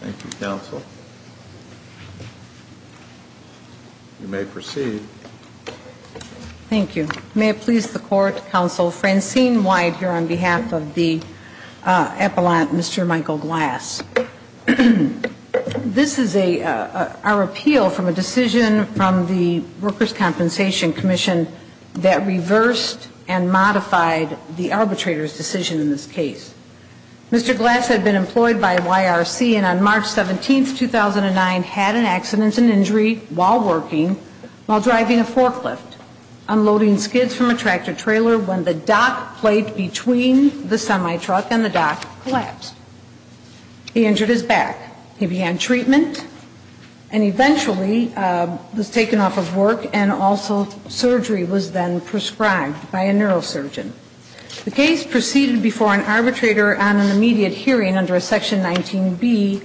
Thank you, counsel. You may proceed. Thank you. May it please the Court, Counsel Francine White here on behalf of the Appellant, Mr. Michael Glass. This is our appeal from a decision from the Workers' Compensation Comm'n that reversed and modified the arbitrator's decision in this case. Mr. Glass had been employed by YRC and on March 17, 2009, had an accident and injury while working while driving a forklift, unloading skids from a tractor-trailer when the dock plate between the semi-truck and the dock collapsed. He injured his back. He began treatment and eventually, was taken off of work and also surgery was then prescribed by a neurosurgeon. The case proceeded before an arbitrator on an immediate hearing under Section 19B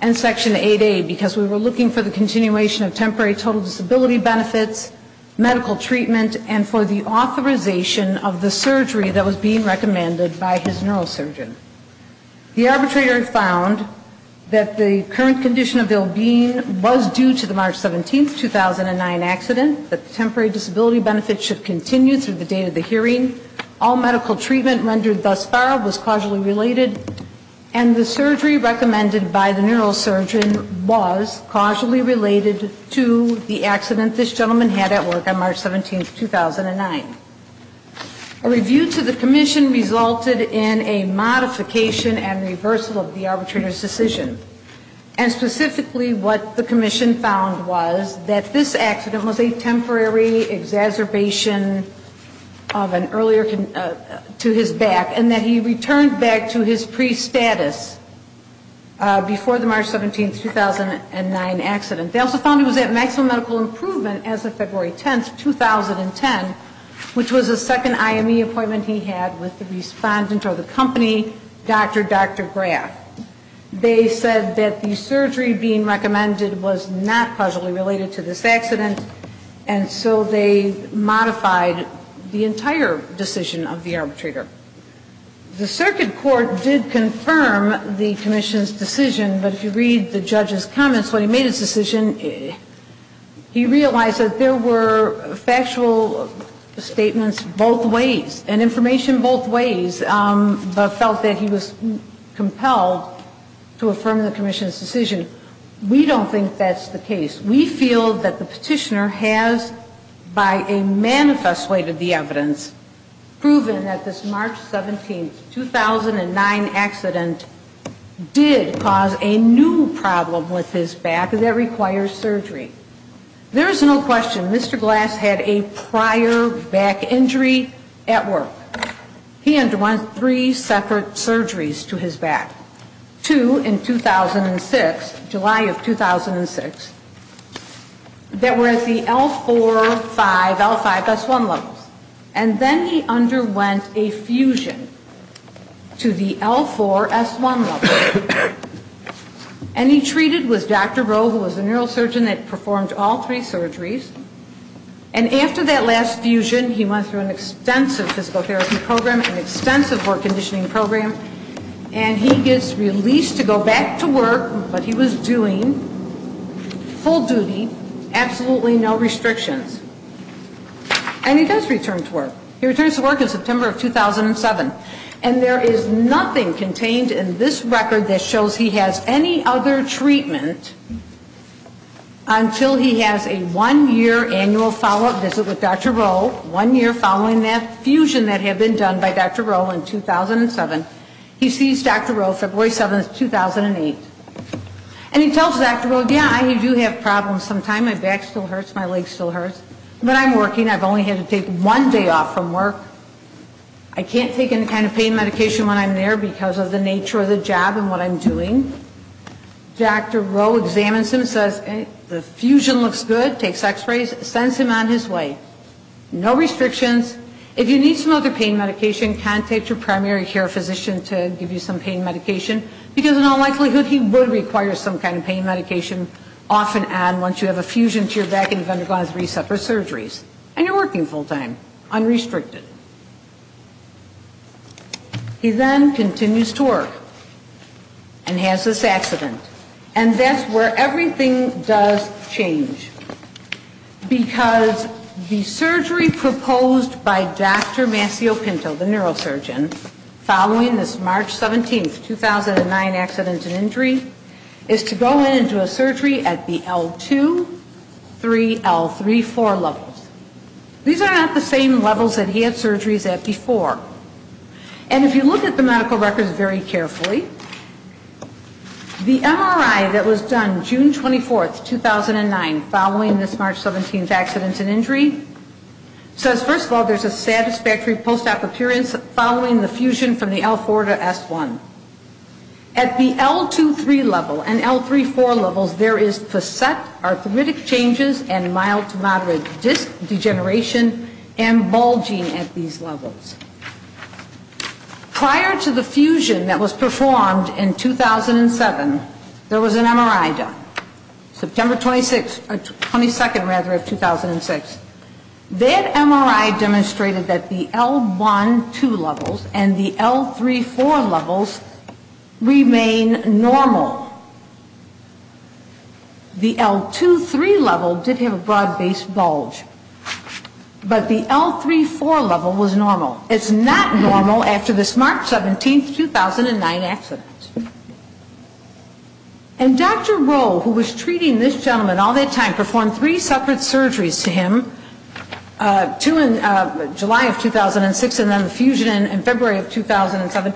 and Section 8A because we were looking for the continuation of temporary total disability benefits, medical treatment, and for the authorization of the surgery that was being recommended by his neurosurgeon. The arbitrator found that the current condition of ill-being was due to the March 17, 2009 accident, that the temporary disability benefits should continue through the date of the hearing. All medical treatment rendered thus far was causally related and the surgery recommended by the neurosurgeon was causally related to the accident this gentleman had at work on March 17, 2009. A review to the commission resulted in a modification and reversal of the arbitrator's decision and specifically what the commission found was that this accident was a temporary exacerbation of an earlier to his back and that he returned back to his pre-status before the March 17, 2009 accident. They also found he was at maximum medical improvement as of February 10, 2010, which was the second IME appointment he had with the respondent or the company, Dr. Dr. Graff. They said that the surgery being recommended was not causally related to this accident and so they modified the entire decision of the arbitrator. The circuit court did confirm the commission's decision, but if you read the judge's comments when he made his decision, he realized that there were factual statements both ways and information both ways, but felt that he was compelled to affirm the commission's decision. We don't think that's the case. We feel that the petitioner has, by a manifest way to the evidence, proven that this March 17, 2009 accident did cause a new problem with his back that requires surgery. There is no question Mr. Glass had a prior back injury at work. He underwent three separate surgeries to his back, two in 2006, July of 2006, that were at the L4-5, L5-S1 levels, and then he underwent a fusion to the L4-S1 level. And he treated with Dr. Rowe, who was the neurosurgeon that performed all three surgeries. And after that last fusion, he went through an extensive physical therapy program, an extensive work conditioning program, and he gets released to go back to work, but he was doing full duty, absolutely no restrictions. And he does return to work. He returns to work in September of 2007. And there is nothing contained in this record that shows he has any other treatment until he has a one-year annual follow-up visit with Dr. Rowe, one year following that fusion that had been done by Dr. Rowe in 2007. He sees Dr. Rowe February 7, 2008. And he tells Dr. Rowe, yeah, I do have problems sometimes. My back still hurts. My leg still hurts. But I'm working. I've only had to take one day off from work. I can't take any kind of pain medication when I'm there because of the nature of the job and what I'm doing. Dr. Rowe examines him, says the fusion looks good, takes x-rays, sends him on his way. No restrictions. If you need some other pain medication, contact your primary care physician to give you some pain medication, because in all likelihood he would require some kind of pain medication off and on once you have a fusion to your back and you've undergone three separate surgeries. And you're working full time, unrestricted. He then continues to work and has this accident. And that's where everything does change. Because the surgery proposed by Dr. Massio Pinto, the neurosurgeon, following this March 17, 2009 accident and injury, is to go into a surgery at the L2, 3, L3, 4 levels. These are not the same levels that he had surgeries at before. And if you look at the medical records very carefully, the MRI that was done June 24, 2009, following this March 17 accident and injury, says first of all there's a satisfactory post-op appearance following the fusion from the L4 to S1. At the L2, 3 level and L3, 4 levels, there is facet arthritic changes and mild to moderate disc degeneration and bulging at these levels. Prior to the fusion that was performed in 2007, there was an MRI done, September 22nd of 2006. That MRI demonstrated that the L1, 2 levels and the L3, 4 levels remain normal. The L2, 3 level did have a broad-based bulge. But the L3, 4 level was normal. It's not normal after this March 17, 2009 accident. And Dr. Rowe, who was treating this gentleman all that time, performed three separate surgeries to him, two in July of 2006 and then the fusion in February of 2007,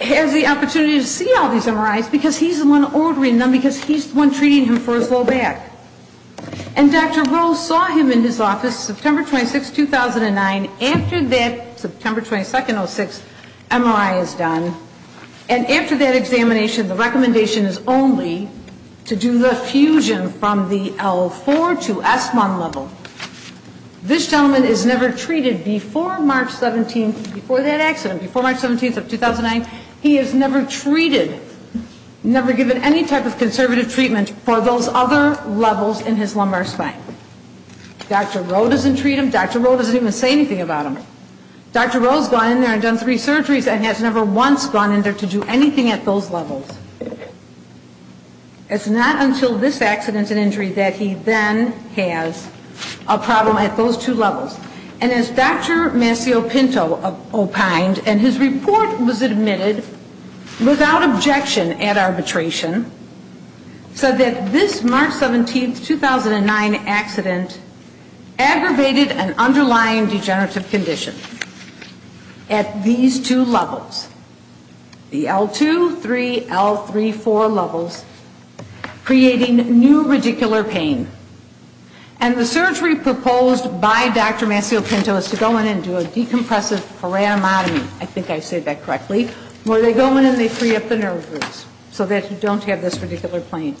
has the opportunity to see all these MRIs because he's the one ordering them, because he's the one treating him for his low back. And Dr. Rowe saw him in his office September 26, 2009. After that, September 22nd, 2006, MRI is done. And after that examination, the recommendation is only to do the fusion from the L4 to S1 level. This gentleman is never treated before March 17th, before that accident, before March 17th of 2009, he is never treated, never given any type of conservative treatment for those other levels in his lumbar spine. Dr. Rowe doesn't treat him. Dr. Rowe doesn't even say anything about him. Dr. Rowe's gone in there and done three surgeries and has never once gone in there to do anything at those levels. It's not until this accident and injury that he then has a problem at those two levels. And as Dr. Mascio-Pinto opined, and his report was admitted without objection at arbitration, said that this March 17, 2009 accident aggravated an underlying degenerative condition at these two levels. The L2, 3, L3, 4 levels, creating new radicular pain. And the surgery proposed by Dr. Mascio-Pinto is to go in and do a decompressive foramatomy, I think I said that correctly, where they go in and they free up the nerve groups so that you don't have this radicular pain.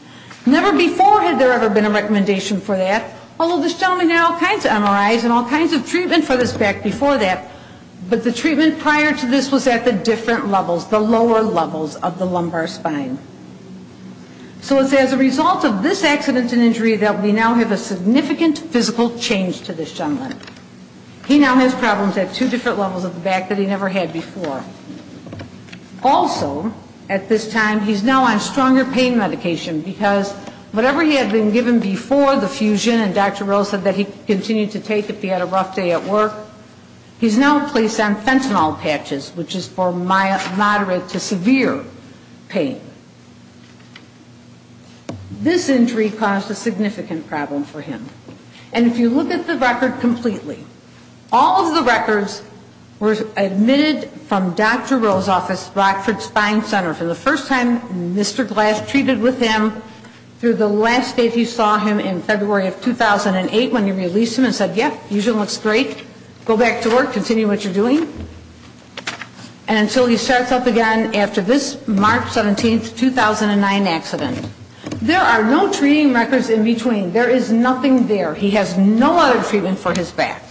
Never before had there ever been a recommendation for that, although this gentleman had all kinds of MRIs and all kinds of treatment for this back before that, but the treatment prior to this was at the different levels, the lower levels of the lumbar spine. So it's as a result of this accident and injury that we now have a significant physical change to this gentleman. He now has problems at two different levels of the back that he never had before. Also, at this time, he's now on stronger pain medication, because whatever he had been given before the fusion, and Dr. Rill said that he could continue to take if he had a rough day at work, he's now placed on fentanyl patches, which is for moderate to severe pain. This injury caused a significant problem for him. And if you look at the record completely, all of the records were admitted from Dr. Mascio-Pinto, and all of the records were admitted from Dr. Rill. And Dr. Rill's office, Rockford Spine Center, for the first time, Mr. Glass treated with him through the last date you saw him in February of 2008 when you released him and said, yep, he usually looks great, go back to work, continue what you're doing, and until he starts up again after this March 17, 2009 accident. There are no treating records in between. There is nothing there. He has no other treatment for his back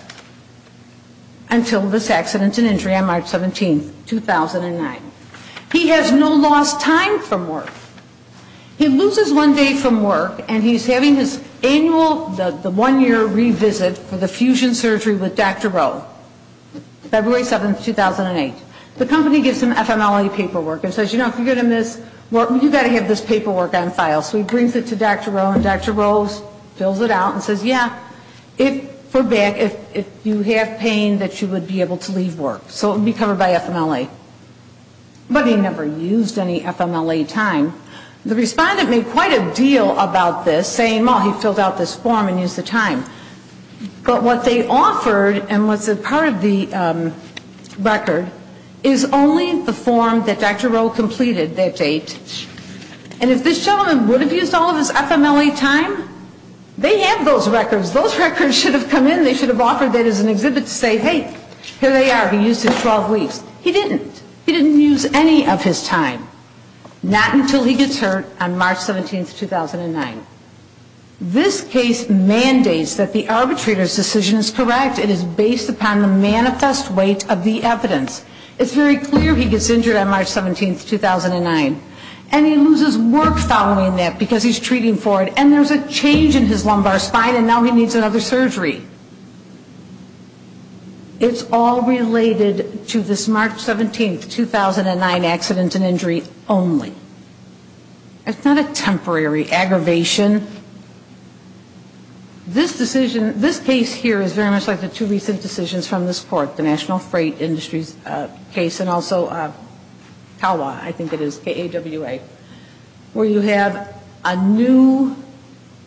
until this accident and injury on March 17. He has no lost time from work. He loses one day from work, and he's having his annual, the one-year revisit for the fusion surgery with Dr. Rill, February 7, 2008. The company gives him FMLA paperwork and says, you know, if you're going to miss work, you've got to have this paperwork on file. So he brings it to Dr. Rill, and Dr. Rill fills it out and says, yeah, if you have pain, that you would be able to leave work. So it would be covered by FMLA. But he never used any FMLA time. The respondent made quite a deal about this, saying, well, he filled out this form and used the time. But what they offered and what's a part of the record is only the form that Dr. Rill completed that date. And if this gentleman would have used all of his FMLA time, they have those records. Those records should have come in. They should have offered that as an exhibit to say, hey, here they are. He used his 12 weeks. He didn't. He didn't use any of his time. Not until he gets hurt on March 17, 2009. This case mandates that the arbitrator's decision is correct. It is based upon the manifest weight of the evidence. It's very clear he gets injured on March 17, 2009. And he loses work following that because he's treating for it. And there's a change in his lumbar spine and now he needs another surgery. It's all related to this March 17, 2009 accident and injury only. It's not a temporary aggravation. This decision, this case here is very much like the two recent decisions from this court, the National Freight Industries case and also CALA, I think it is, KAWA, where you have a new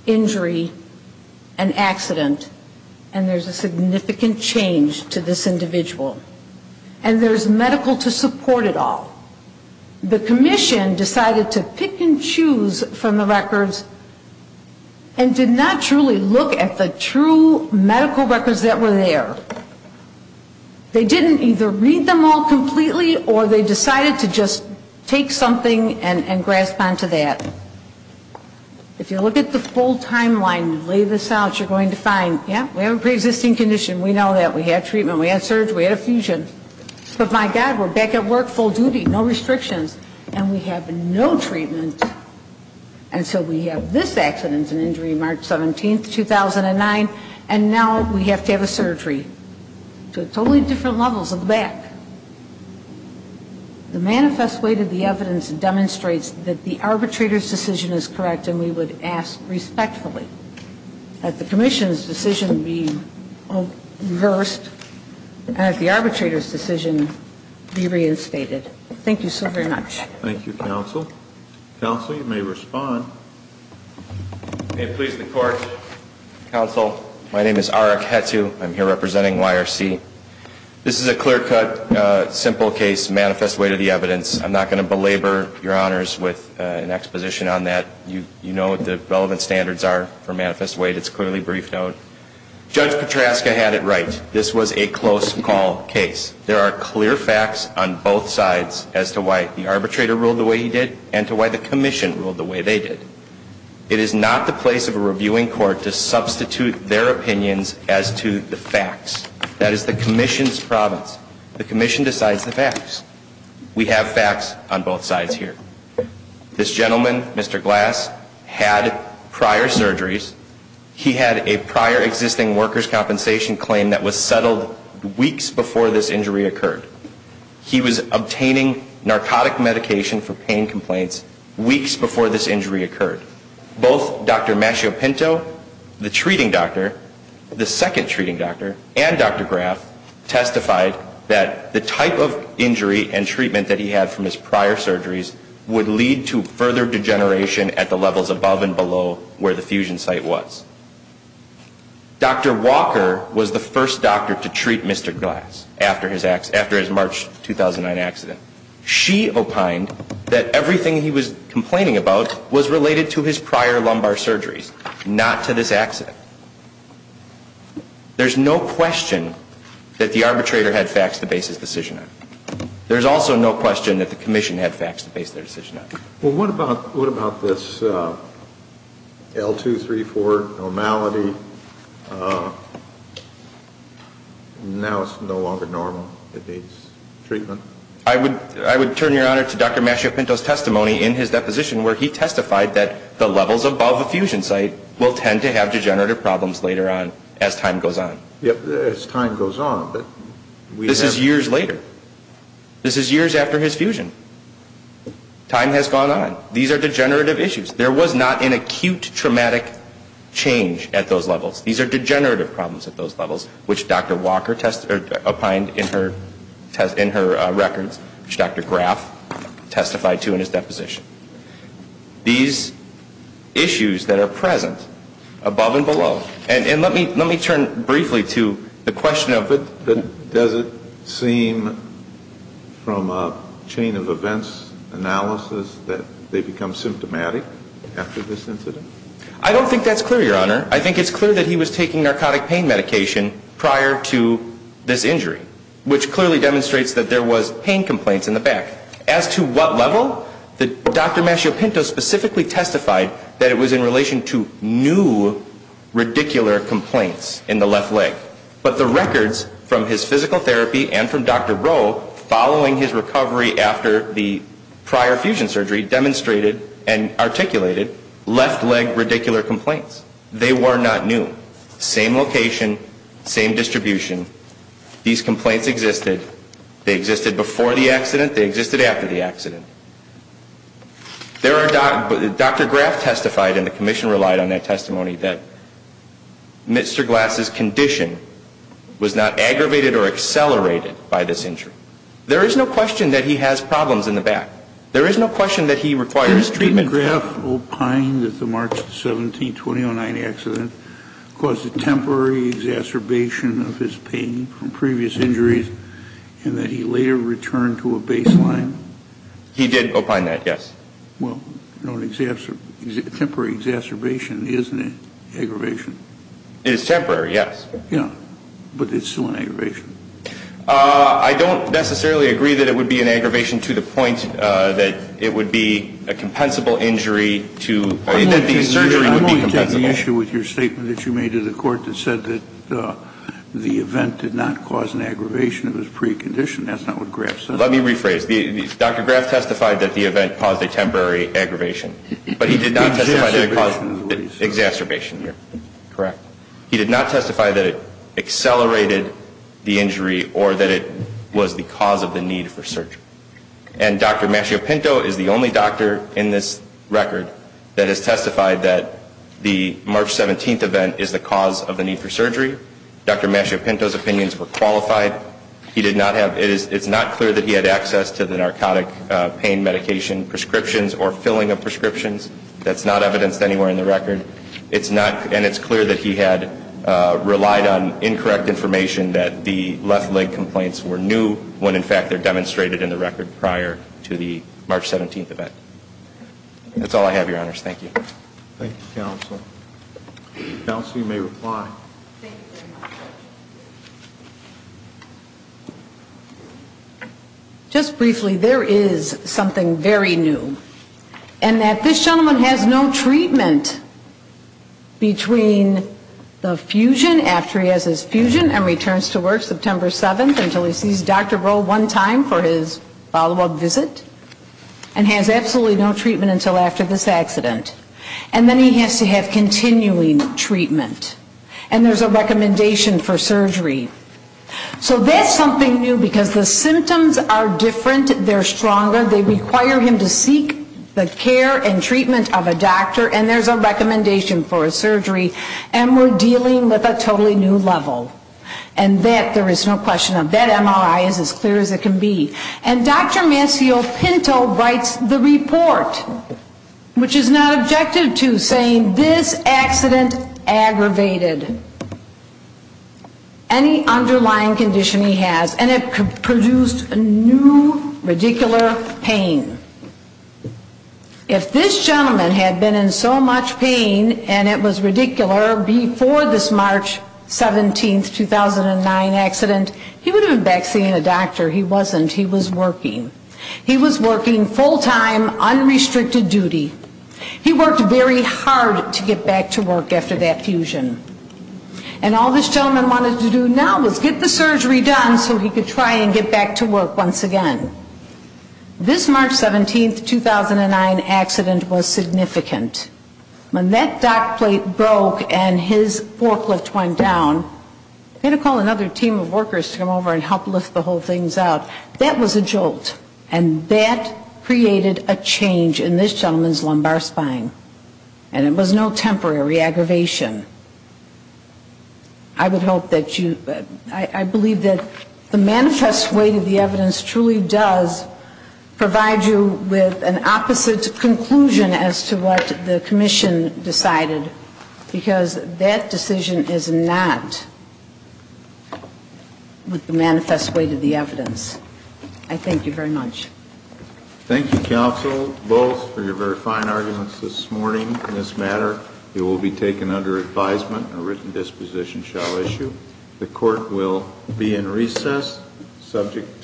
injury, an accident, and there's a significant change to this individual. And there's medical to support it all. The commission decided to pick and choose from the records and did not truly look at the true medical records that were there. They didn't either read them all completely or they decided to just take something and grasp onto that. If you look at the full timeline and lay this out, you're going to find, yeah, we have a preexisting condition. We know that. We had treatment. We had surgery. We had effusion. But my God, we're back at work, full duty, no restrictions, and we have no treatment. And so we have this accident and injury, March 17, 2009, and now we have to have a surgery. So totally different levels of the back. The manifest weight of the evidence demonstrates that the arbitrator's decision is correct, and we would ask respectfully that the commission's decision be reversed and that the arbitrator's decision be reinstated. Thank you so very much. Thank you, counsel. Counsel, you may respond. May it please the court. Counsel, my name is Arik Hetu. I'm here representing YRC. This is a clear-cut, simple case, manifest weight of the evidence. I'm not going to belabor your honors with an exposition on that. You know what the relevant standards are for manifest weight. It's clearly briefed out. Judge Petraska had it right. This was a close call case. There are clear facts on both sides as to why the arbitrator ruled the way he did and to why the commission ruled the way they did. It is not the place of a reviewing court to substitute their opinions as to the facts. That is the commission's province. The commission decides the facts. We have facts on both sides here. This gentleman, Mr. Glass, had prior surgeries. He had a prior existing workers' compensation claim that was settled weeks before this injury occurred. He was obtaining narcotic medication for pain complaints weeks before this injury occurred. Both Dr. Machiopinto, the treating doctor, the second treating doctor, and Dr. Graff testified that the type of injury and treatment that he had from his prior surgeries would lead to further degeneration at the levels above and below where the fusion site was. Dr. Walker was the first doctor to treat Mr. Glass after his March 2009 accident. She opined that everything he was complaining about was related to his prior lumbar surgeries, not to this accident. There's no question that the arbitrator had facts to base his decision on. There's also no question that the commission had facts to base their decision on. Well, what about this L234 normality? Now it's no longer normal. It needs treatment. I would turn, Your Honor, to Dr. Machiopinto's testimony in his deposition where he testified that the levels above a fusion site will tend to have degenerative problems later on as time goes on. Yep, as time goes on. This is years later. This is years after his fusion. Time has gone on. These are degenerative issues. There was not an acute traumatic change at those levels. These are degenerative problems at those levels, which Dr. Walker opined in her records, which Dr. Graff testified to in his deposition. These issues that are present above and below, and let me turn briefly to the question of... Does it seem from a chain of events analysis that they become symptomatic after this incident? I don't think that's clear, Your Honor. I think it's clear that he was taking narcotic pain medication prior to this injury, which clearly demonstrates that there was pain complaints in the back. As to what level, Dr. Machiopinto specifically testified that it was in relation to new radicular complaints in the left leg. But the records from his physical therapy and from Dr. Rowe following his recovery after the prior fusion surgery demonstrated and articulated left leg radicular complaints. They were not new. Same location, same distribution. These complaints existed. They existed before the accident. They existed after the accident. Dr. Graff testified, and the commission relied on that testimony, that Mr. Glass's condition was not aggravated or accelerated by this injury. There is no question that he has problems in the back. There is no question that he requires treatment. Did Mr. Graff opine that the March 17, 2009 accident caused a temporary exacerbation of his pain? From previous injuries, and that he later returned to a baseline? He did opine that, yes. Well, a temporary exacerbation is an aggravation. It is temporary, yes. Yeah, but it's still an aggravation. I don't necessarily agree that it would be an aggravation to the point that it would be a compensable injury to that the surgery would be compensable. I'm only taking the issue with your statement that you made to the court that said that the event did not cause an aggravation. It was a precondition. That's not what Graff said. Let me rephrase. Dr. Graff testified that the event caused a temporary aggravation. Exacerbation. Correct. He did not testify that it accelerated the injury or that it was the cause of the need for surgery. And Dr. Mascio-Pinto is the only doctor in this record that has testified that the March 17 event is the cause of the need for surgery. Dr. Mascio-Pinto's opinions were qualified. It's not clear that he had access to the narcotic pain medication prescriptions or filling of prescriptions. That's not evidenced anywhere in the record. And it's clear that he had relied on incorrect information that the left leg complaints were new when, in fact, they're demonstrated in the record prior to the March 17 event. That's all I have, Your Honors. Thank you. Thank you, Counsel. Counsel, you may reply. Just briefly, there is something very new. And that this gentleman has no treatment between the fusion, after he has his fusion and returns to work September 7th until he sees Dr. Rowe one time for his follow-up visit, and has absolutely no treatment until after this accident. And then he has to have continuing treatment. And there's a recommendation for surgery. So that's something new, because the symptoms are different. They're stronger. They require him to seek the care and treatment of a doctor, and there's a recommendation for a surgery. And we're dealing with a totally new level. And that there is no question of. That MRI is as clear as it can be. And Dr. Maceo-Pinto writes the report, which is not objective, to saying this accident aggravated any underlying condition he has. And it produced new, ridiculous pain. If this gentleman had been in so much pain, and it was ridiculous, before this March 17th, 2009 accident, he would have been back seeing a doctor. He wasn't. He was working. He was working full-time, unrestricted duty. He worked very hard to get back to work after that fusion. And all this gentleman wanted to do now was get the surgery done so he could try and get back to work once again. This March 17th, 2009 accident was significant. When that dock plate broke and his forklift went down, Pinto called another team of workers to come over and help lift the whole thing out. That was a jolt. And that created a change in this gentleman's lumbar spine. And it was no temporary aggravation. I would hope that you ñ I believe that the manifest weight of the evidence truly does provide you with an opposite conclusion as to what the commission decided, because that decision is not with the manifest weight of the evidence. I thank you very much. Thank you, counsel, both, for your very fine arguments this morning on this matter. It will be taken under advisement and a written disposition shall issue. The court will be in recess, subject to call.